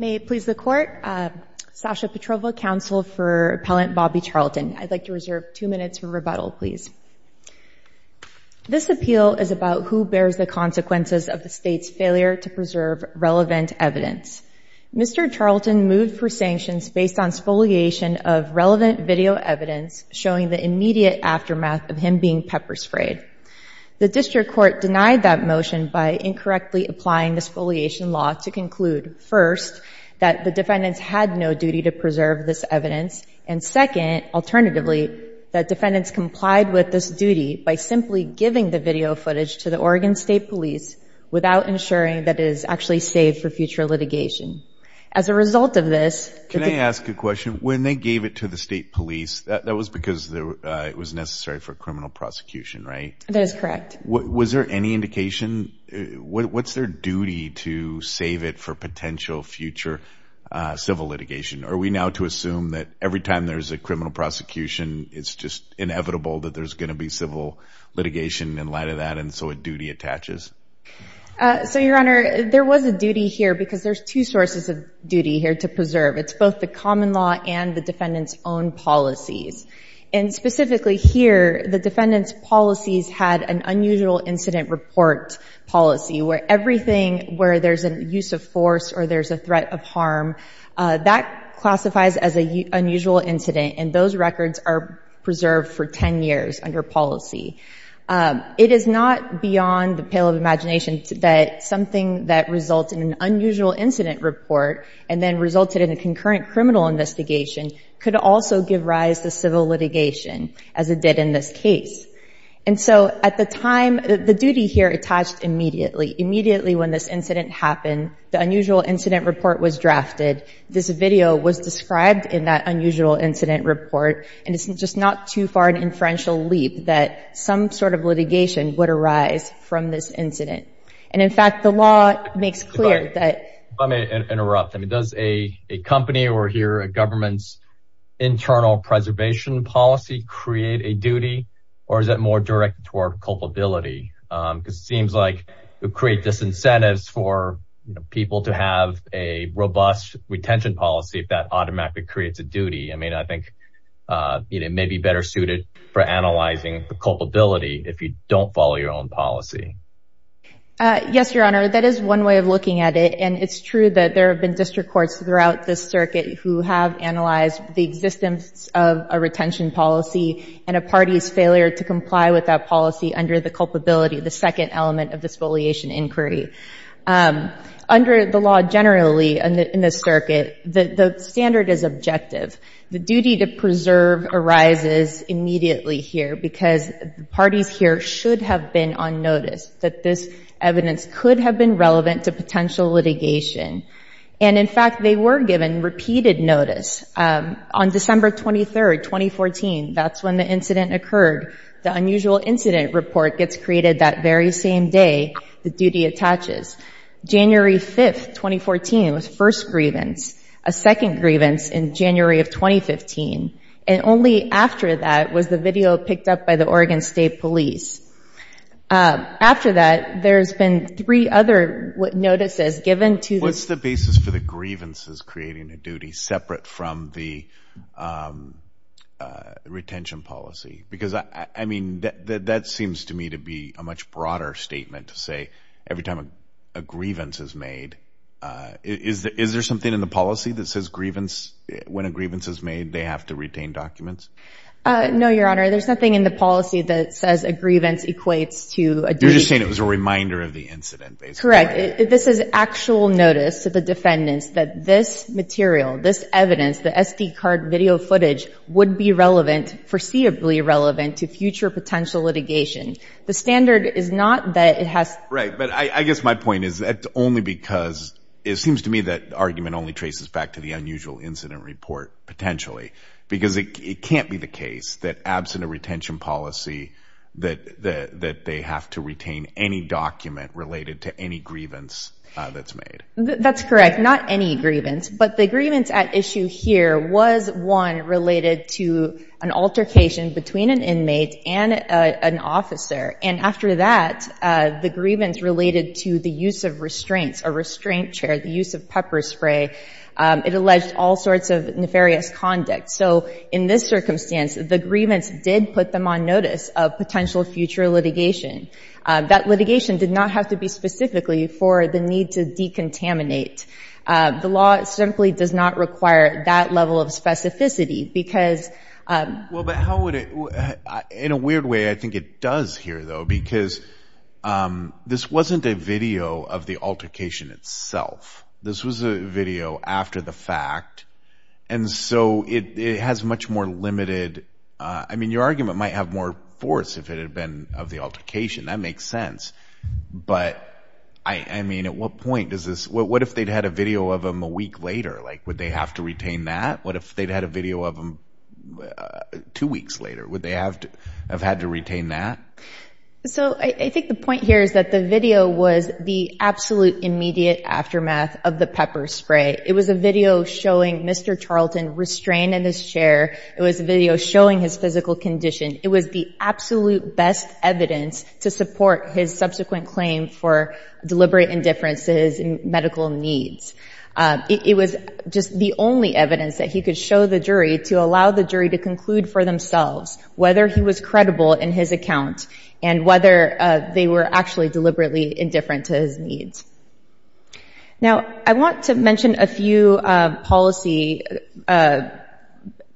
May it please the court, Sasha Petrova, counsel for appellant Bobby Charlton. I'd like to reserve two minutes for rebuttal, please. This appeal is about who bears the consequences of the state's failure to preserve relevant evidence. Mr. Charlton moved for sanctions based on spoliation of relevant video evidence showing the immediate aftermath of him being pepper sprayed. The district court denied that motion by incorrectly applying the spoliation law to conclude, first, that the defendants had no duty to preserve this evidence, and second, alternatively, that defendants complied with this duty by simply giving the video footage to the Oregon State Police without ensuring that it is actually saved for future litigation. As a result of this- Can I ask a question? When they gave it to the state police, that was because it was necessary for criminal prosecution, right? That is correct. Was there any indication? What's their duty to save it for potential future civil litigation? Are we now to assume that every time there's a criminal prosecution, it's just inevitable that there's going to be civil litigation in light of that, and so a duty attaches? So, your honor, there was a duty here because there's two sources of duty here to preserve. It's both the common law and the defendant's own policies, and specifically here, the defendant's policies had an unusual incident report policy where everything where there's a use of force or there's a threat of harm, that classifies as an unusual incident, and those records are preserved for 10 years under policy. It is not beyond the pale of imagination that something that results in an unusual incident report and then resulted in a concurrent criminal investigation could also give rise to civil litigation, as it did in this case. And so, at the time, the duty here attached immediately. Immediately when this incident happened, the unusual incident report was drafted. This video was described in that unusual incident report, and it's just not too far an inferential leap that some sort of litigation would arise from this incident. And in fact, the law makes clear that... If I may interrupt, does a company or here a government's internal preservation policy create a duty, or is that more directed toward culpability? Because it seems like you create disincentives for people to have a robust retention policy if that automatically creates a duty. I mean, I think it may be better suited for analyzing the culpability if you don't follow your own policy. Yes, Your Honor. That is one way of looking at it, and it's true that there have been district courts throughout this circuit who have analyzed the existence of a retention policy and a party's failure to comply with that policy under the culpability, the second element of this foliation inquiry. Under the law generally in this circuit, the standard is objective. The duty to preserve arises immediately here because the parties here should have been on notice that this evidence could have been relevant to potential litigation. And in fact, they were given repeated notice. On December 23, 2014, that's when the incident occurred. The unusual incident report gets created that very same day the duty attaches. January 5, 2014 was first grievance, a second grievance in January of 2015, and only after that was the video picked up by the Oregon State Police. After that, there's been three other notices given to the... What's the basis for the grievances creating a duty separate from the retention policy? Because I mean, that seems to me to be a much broader statement to say every time a grievance is made, is there something in the policy that says grievance, when a grievance is made, they have to retain documents? No, Your Honor. There's nothing in the policy that says a grievance equates to a duty... You're just saying it was a reminder of the incident, basically. Correct. This is actual notice to the defendants that this material, this evidence, the SD card video footage would be relevant, foreseeably relevant, to future potential litigation. The standard is not that it has... Right. But I guess my point is that only because it seems to me that argument only traces back to the unusual incident report, potentially. Because it can't be the case that absent a retention policy, that they have to retain any document related to any grievance that's made. That's correct. Not any grievance, but the grievance at issue here was one related to an altercation between an inmate and an officer. And after that, the grievance related to the use of restraints, a restraint chair, the use of pepper spray. It alleged all sorts of nefarious conduct. So in this circumstance, the grievance did put them on notice of potential future litigation. That litigation did not have to be specifically for the need to decontaminate. The law simply does not require that level of specificity because... Well, but how would it... In a weird way, I think it does here, though, because this wasn't a video of the altercation itself. This was a video after the fact. And so it has much more limited... I mean, your argument might have more force if it had been of the altercation. That makes sense. But I mean, at what point does this... What if they'd had a video of them a week later? Would they have to retain that? What if they'd had a video of them two weeks later? Would they have to have had to retain that? So I think the point here is that the video was the absolute immediate aftermath of the pepper spray. It was a video showing Mr. Charlton restrained in his chair. It was a video showing his physical condition. It was the absolute best evidence to support his subsequent claim for deliberate indifferences and medical needs. It was just the only evidence that he could show the jury to allow the jury to conclude for themselves whether he was credible in his account and whether they were actually deliberately indifferent to his needs. Now I want to mention a few policy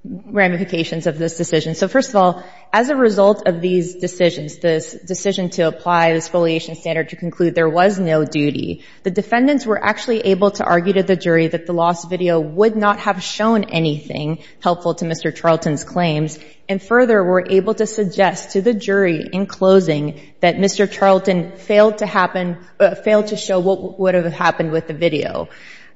ramifications of this decision. So first of all, as a result of these decisions, this decision to apply the Exfoliation Standard to conclude there was no duty, the defendants were actually able to argue to the jury that the lost video would not have shown anything helpful to Mr. Charlton's claims and further were able to argue to the jury in closing that Mr. Charlton failed to happen, failed to show what would have happened with the video.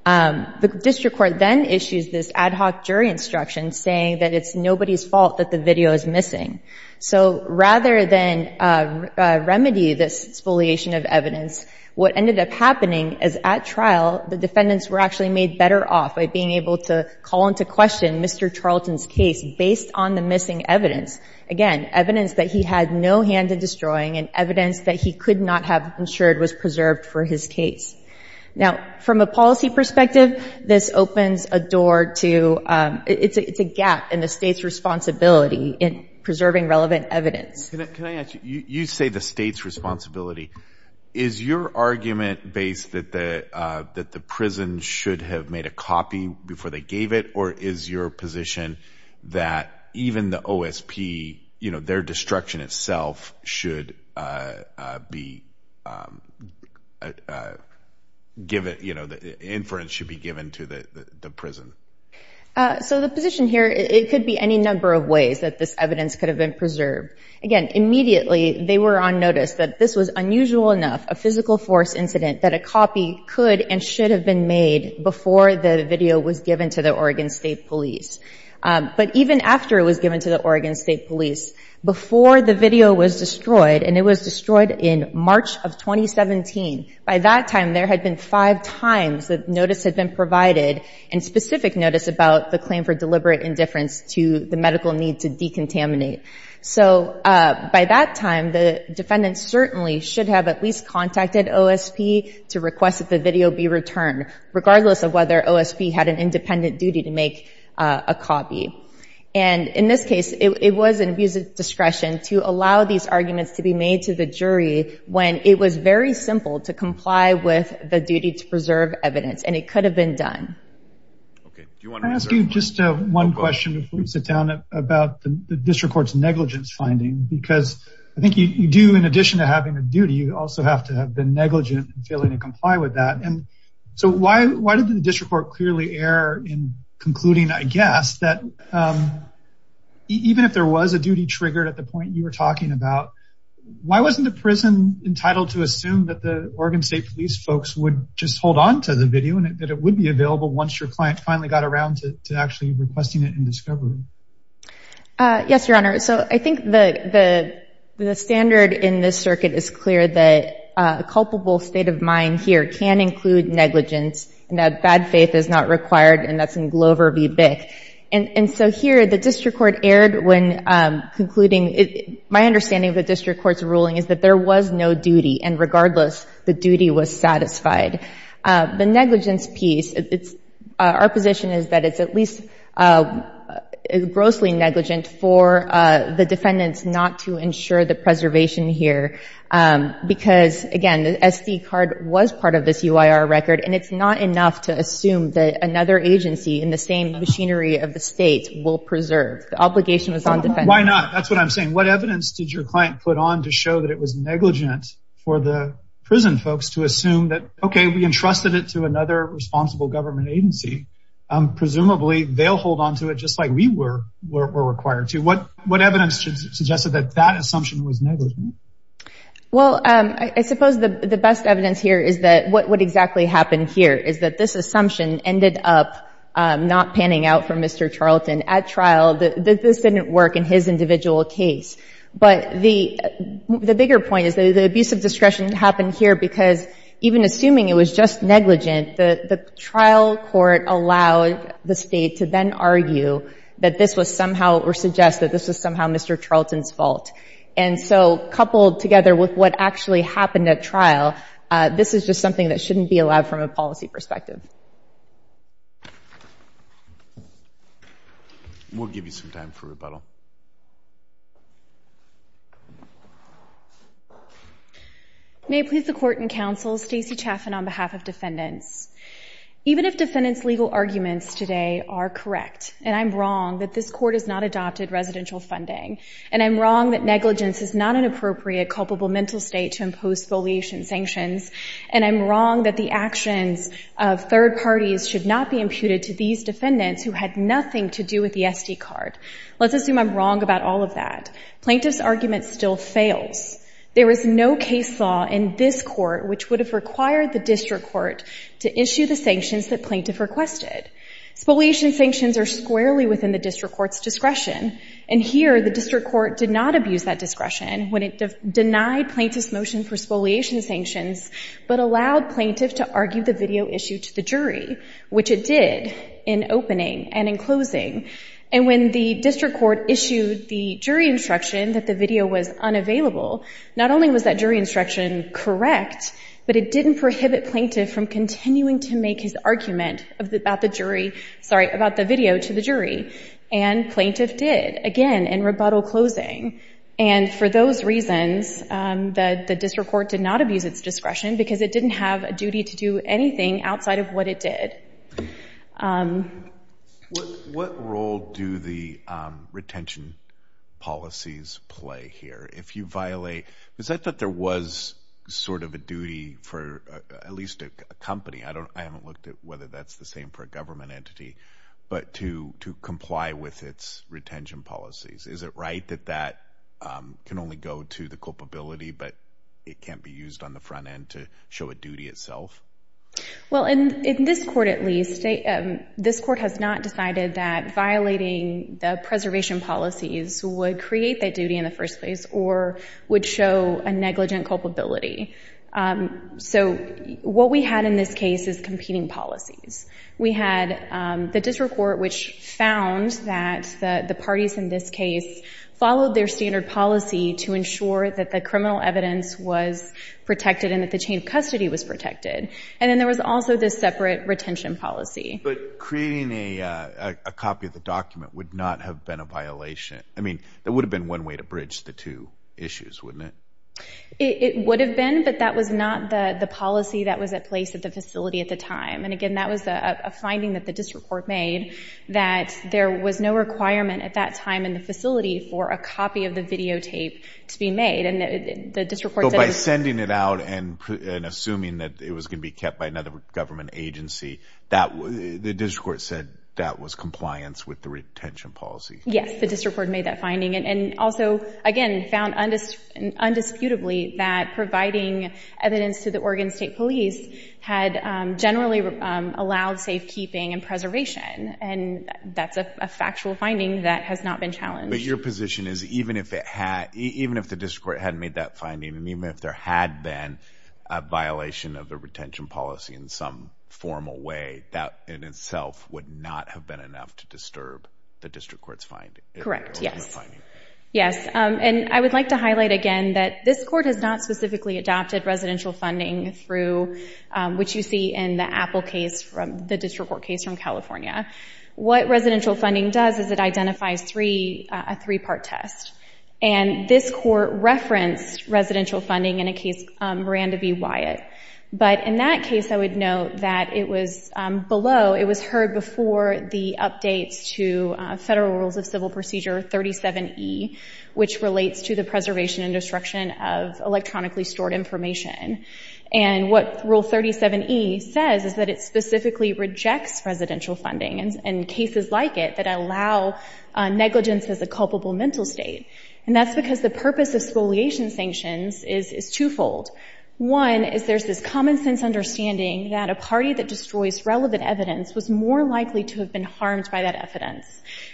The district court then issues this ad hoc jury instruction saying that it's nobody's fault that the video is missing. So rather than remedy this exfoliation of evidence, what ended up happening is at trial the defendants were actually made better off by being able to call into question Mr. Charlton's case based on the missing evidence. Again, evidence that he had no hand in destroying and evidence that he could not have ensured was preserved for his case. Now from a policy perspective, this opens a door to, it's a gap in the state's responsibility in preserving relevant evidence. Can I ask you, you say the state's responsibility. Is your argument based that the prison should have made a copy before they gave it or is your position that even the OSP, their destruction itself should be, the inference should be given to the prison? So the position here, it could be any number of ways that this evidence could have been preserved. Again, immediately they were on notice that this was unusual enough, a physical force incident, that a copy could and should have been made before the video was given to the Oregon State Police. But even after it was given to the Oregon State Police, before the video was destroyed, and it was destroyed in March of 2017, by that time there had been five times that notice had been provided and specific notice about the claim for deliberate indifference to the medical need to decontaminate. So by that time the defendants certainly should have at least contacted OSP to request that the video be returned, regardless of whether OSP had an independent duty to make a copy. And in this case, it was an abuse of discretion to allow these arguments to be made to the jury when it was very simple to comply with the duty to preserve evidence and it could have been done. Can I ask you just one question before we sit down about the district court's negligence finding? Because I think you do, in addition to having a duty, you also have to have been negligent and failing to comply with that. And so why did the district court clearly err in concluding, I guess, that even if there was a duty triggered at the point you were talking about, why wasn't the prison entitled to assume that the Oregon State Police folks would just hold on to the video and that it would be available once your client finally got around to actually requesting it in discovery? Yes, Your Honor. So I think the standard in this circuit is clear that a culpable state of mind here can include negligence and that bad faith is not required and that's in Glover v. Bick. And so here the district court erred when concluding, my understanding of the district court's ruling is that there was no duty and regardless, the duty was satisfied. The negligence piece, our position is that it's at least grossly negligent for the defendants not to ensure the preservation here because, again, the SD card was part of this UIR record and it's not enough to assume that another agency in the same machinery of the state will preserve. The obligation was on defendants. Why not? That's what I'm saying. What evidence did your client put on to show that it was okay, we entrusted it to another responsible government agency. Presumably they'll hold on to it just like we were required to. What evidence suggested that that assumption was negligent? Well, I suppose the best evidence here is that what exactly happened here is that this assumption ended up not panning out for Mr. Charlton at trial. This didn't work in his individual case. But the bigger point is the abuse of discretion happened here because even assuming it was just negligent, the trial court allowed the state to then argue that this was somehow or suggest that this was somehow Mr. Charlton's fault. And so, coupled together with what actually happened at trial, this is just something that shouldn't be allowed from a policy perspective. We'll give you some time for rebuttal. May it please the court and counsel, Stacey Chaffin on behalf of defendants. Even if defendants' legal arguments today are correct, and I'm wrong that this court has not adopted residential funding, and I'm wrong that negligence is not an appropriate culpable mental state to impose foliation sanctions, and I'm wrong that the actions of third parties should not be imputed to these defendants who had nothing to do with the SD card. Let's assume I'm wrong about all of that. Plaintiff's argument still fails. There is no case law in this court which would have required the district court to issue the sanctions that plaintiff requested. Foliation sanctions are squarely within the district court's discretion. And here, the district court did not abuse that discretion when it denied plaintiff's motion for foliation did in opening and in closing. And when the district court issued the jury instruction that the video was unavailable, not only was that jury instruction correct, but it didn't prohibit plaintiff from continuing to make his argument about the video to the jury. And plaintiff did, again, in rebuttal closing. And for those reasons, the district court did not abuse its discretion because it didn't have a duty to do anything outside of what it did. What role do the retention policies play here? If you violate, is that that there was sort of a duty for at least a company? I haven't looked at whether that's the same for a government entity, but to comply with its retention policies. Is it right that that can only go to the culpability, but it can't be used on the front end to show a duty itself? Well, in this court, at least, this court has not decided that violating the preservation policies would create that duty in the first place or would show a negligent culpability. So what we had in this case is competing policies. We had the district court, which found that the parties in this case followed their standard policy to ensure that the criminal evidence was protected and that the chain of custody was protected. And then there was also this separate retention policy. But creating a copy of the document would not have been a violation. I mean, that would have been one way to bridge the two issues, wouldn't it? It would have been, but that was not the policy that was at place at the facility at the time. And again, that was a finding that the district court made that there was no requirement at that time in the facility for a copy of the videotape to be made. But by sending it out and assuming that it was going to be kept by another government agency, the district court said that was compliance with the retention policy? Yes, the district court made that finding. And also, again, found undisputably that providing evidence to the Oregon State Police had generally allowed safekeeping and preservation. And that's a factual finding that has not been challenged. But your position is even if the district court hadn't made that finding, and even if there had been a violation of the retention policy in some formal way, that in itself would not have been enough to disturb the district court's finding? Correct, yes. Yes. And I would like to highlight again that this court has not specifically adopted residential funding through, which you see in the Apple case, the district court case from California. What residential funding does is it identifies a three-part test. And this court referenced residential funding in a case, Miranda v. Wyatt. But in that case, I would note that it was below, it was heard before the updates to Federal Rules of Civil Procedure 37E, which relates to the preservation and destruction of electronically stored information. And what Rule 37E says is that it specifically rejects residential funding and cases like it that allow negligence as a culpable mental state. And that's because the purpose of spoliation sanctions is twofold. One is there's this common sense understanding that a party that destroys relevant evidence was more likely to have been harmed by that evidence.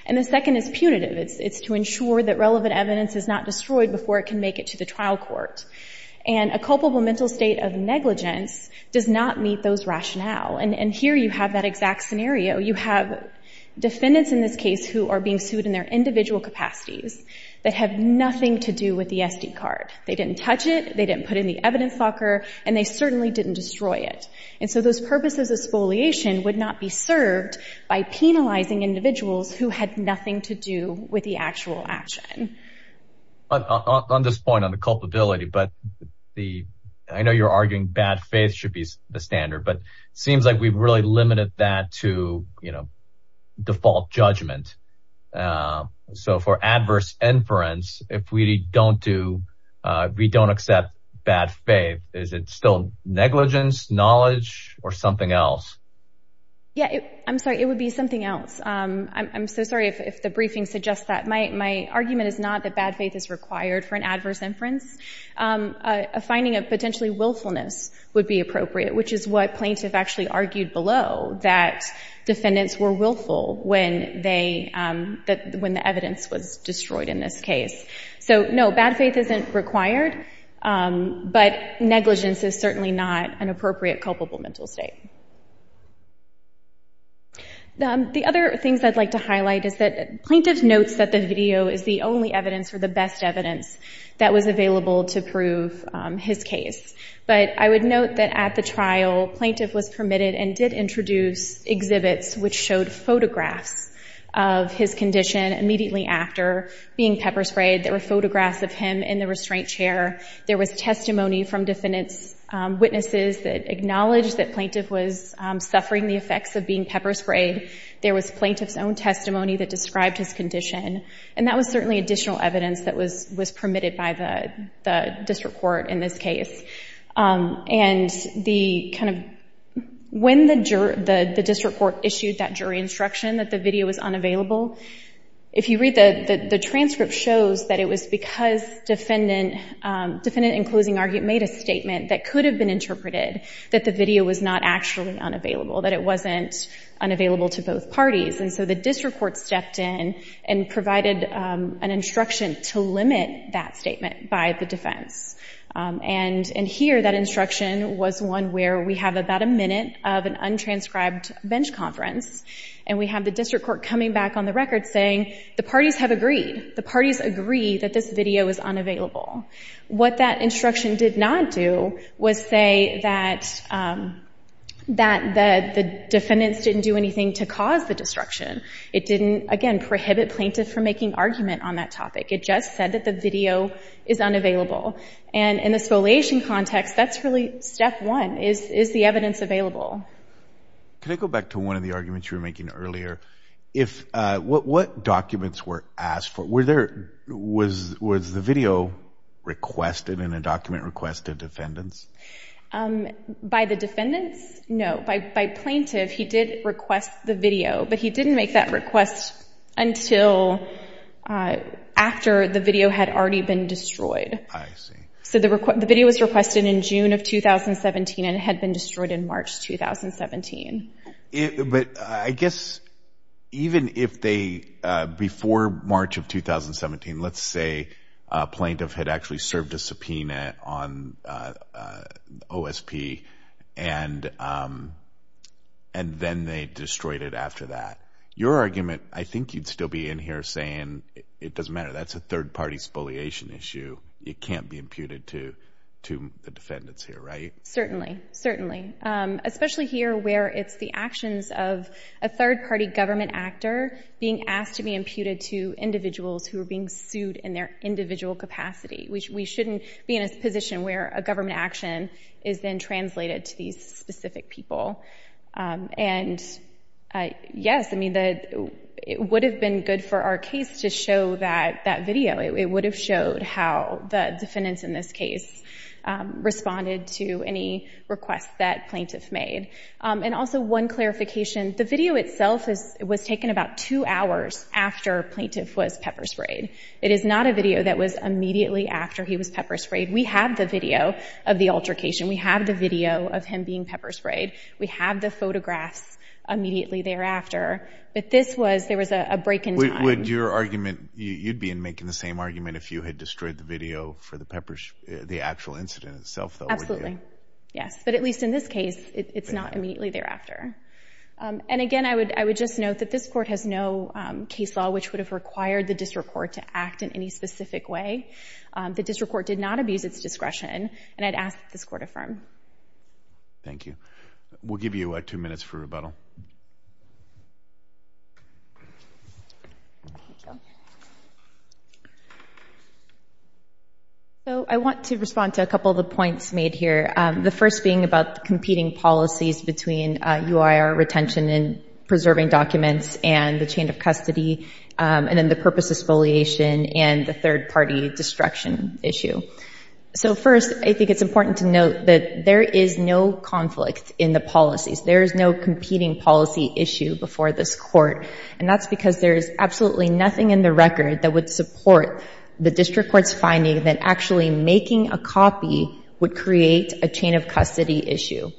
And the second is punitive. It's to ensure that relevant evidence is not destroyed before it can make it to the trial court. And a culpable mental state of negligence does not meet those rationale. And here you have that exact scenario. You have defendants in this case who are being sued in their individual capacities that have nothing to do with the SD card. They didn't touch it. They didn't put in the evidence locker. And they certainly didn't destroy it. And so those purposes of spoliation would not be served by penalizing individuals who had nothing to do with the actual action. On this point on the culpability, but I know you're arguing bad faith should be the standard, but it seems like we've really limited that to, you know, default judgment. So for adverse inference, if we don't do, we don't accept bad faith, is it still negligence, knowledge or something else? Yeah, I'm sorry. It would be something else. I'm so sorry if the briefing suggests that. My argument is not that bad faith is required for an adverse inference. A finding of potentially willfulness would be appropriate, which is what plaintiff actually argued below, that defendants were willful when the evidence was destroyed in this case. So no, bad faith isn't required, but negligence is certainly not an appropriate culpable mental state. The other things I'd like to highlight is that plaintiff notes that the video is the only evidence or the best evidence that was available to prove his case. But I would note that at the trial, plaintiff was permitted and did introduce exhibits which showed photographs of his condition immediately after being pepper sprayed. There were photographs of him in the restraint chair. There was testimony from defendants, witnesses that acknowledged that he was suffering the effects of being pepper sprayed. There was plaintiff's own testimony that described his condition. And that was certainly additional evidence that was permitted by the district court in this case. And the kind of, when the district court issued that jury instruction that the video was unavailable, if you read the transcript, it shows that it was because defendant in closing argument made a statement that could have been interpreted that the video was not actually unavailable, that it wasn't unavailable to both parties. And so the district court stepped in and provided an instruction to limit that statement by the defense. And here, that instruction was one where we have about a minute of an untranscribed bench conference, and we have the district court coming back on the record saying, the parties have agreed. The parties agree that this video is unavailable. What that instruction did not do was say that the defendants didn't do anything to cause the destruction. It didn't, again, prohibit plaintiff from making argument on that topic. It just said that the video is unavailable. And in the spoliation context, that's really step one, is the evidence available. Can I go back to one of the arguments you were making earlier? What documents were asked in a document request to defendants? By the defendants? No. By plaintiff, he did request the video, but he didn't make that request until after the video had already been destroyed. I see. So the video was requested in June of 2017 and had been destroyed in March 2017. But I guess even if they, before March of 2017, let's say a plaintiff had actually served a subpoena on OSP, and then they destroyed it after that. Your argument, I think you'd still be in here saying, it doesn't matter, that's a third-party spoliation issue. It can't be imputed to the defendants here, right? Certainly. Certainly. Especially here where it's the actions of a third-party government actor being asked to be imputed to individuals who are being sued in their individual capacity. We shouldn't be in a position where a government action is then translated to these specific people. And yes, I mean, it would have been good for our case to show that video. It would have showed how the defendants in this case responded to any requests that plaintiff made. And also one clarification, the video itself was taken about two hours after plaintiff was pepper sprayed. It is not a video that was immediately after he was pepper sprayed. We have the video of the altercation. We have the video of him being pepper sprayed. We have the photographs immediately thereafter. But this was, there was a break in time. Would your argument, you'd be in making the same argument if you had destroyed the video for the pepper, the actual incident itself, though, would you? Absolutely. Yes. But at least in this case, it's not immediately thereafter. And again, I would just note that this court has no case law which would have required the district court to act in any specific way. The district court did not abuse its discretion. And I'd ask that this court affirm. Thank you. We'll give you two minutes for rebuttal. So I want to respond to a couple of the points made here. The first being about competing policies between UIR retention and preserving documents and the chain of custody, and then the purpose of spoliation and the third party destruction issue. So first, I think it's important to note that there is no conflict in the policies. There is no competing policy issue before this court. And that's because there is absolutely nothing in the record that would support the district court's finding that actually making a copy would create a chain of custody issue.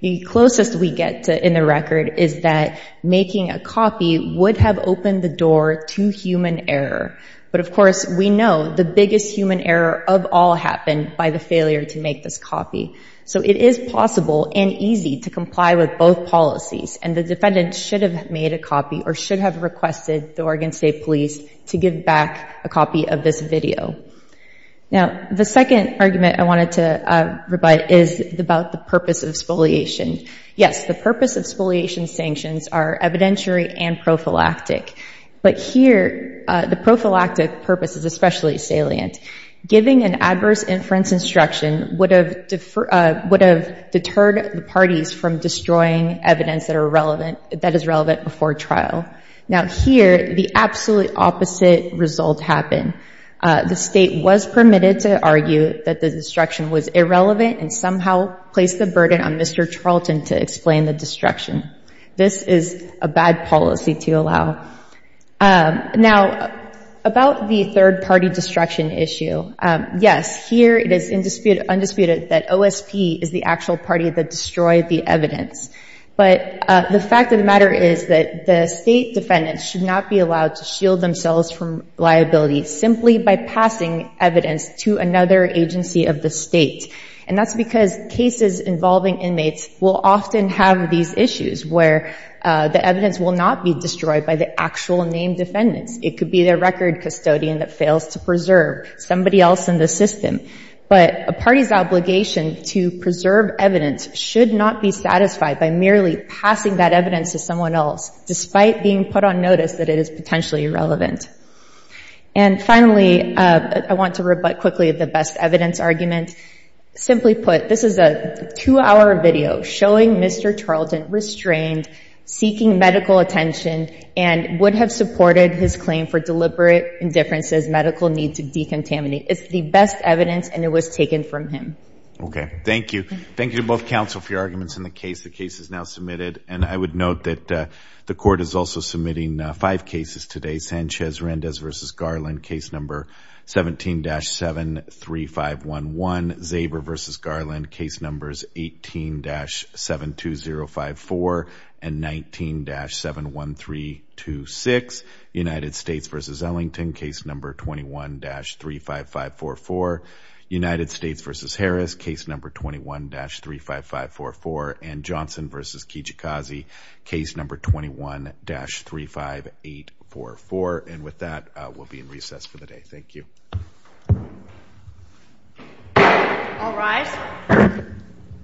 The closest we get in the record is that making a copy would have opened the door to human error. But of course, we know the biggest human error of all happened by the failure to make this copy. So it is possible and easy to comply with both policies. And the defendant should have made a copy or should have requested the Oregon State Police to give back a copy of this video. Now, the second argument I wanted to provide is about the purpose of spoliation. Yes, the purpose of spoliation sanctions are evidentiary and prophylactic. But here, the prophylactic purpose is especially salient. Giving an adverse inference instruction would have deterred the parties from destroying evidence that is relevant before trial. Now here, the absolute opposite result happened. The state was permitted to argue that the destruction was irrelevant and somehow placed the burden on Mr. Charlton to explain the destruction. This is a bad policy to allow. Now, about the third party destruction issue, yes, here it is undisputed that OSP is the actual party that destroyed the evidence. But the fact of the matter is that the state defendants should not be allowed to shield themselves from liability simply by passing evidence to another agency of the state. And that's because cases involving inmates will often have these issues where the evidence will not be destroyed by the actual named defendants. It could be their record custodian that fails to preserve, somebody else in the system. But a party's obligation to preserve evidence should not be satisfied by merely passing that evidence to someone else despite being put on notice that it is potentially irrelevant. And finally, I want to rebut quickly the best evidence argument. Simply put, this is a two-hour video showing Mr. Charlton restrained, seeking medical attention, and would have supported his claim for deliberate indifference as medical need to decontaminate. It's the best evidence, and it was taken from him. Okay, thank you. Thank you to both counsel for your arguments in the case. The case is now submitted, and I would note that the court is also submitting five cases today. Sanchez-Randez v. Garland, case number 17-73511. Zaber v. Garland, case numbers 18-72054 and 19-71326. United States v. Ellington, case number 21-35544. United States v. Harris, case number 21-35544. And Johnson v. Kijikazi, case number 21-35844. And with that, we'll be in recess for the day. Thank you. All rise.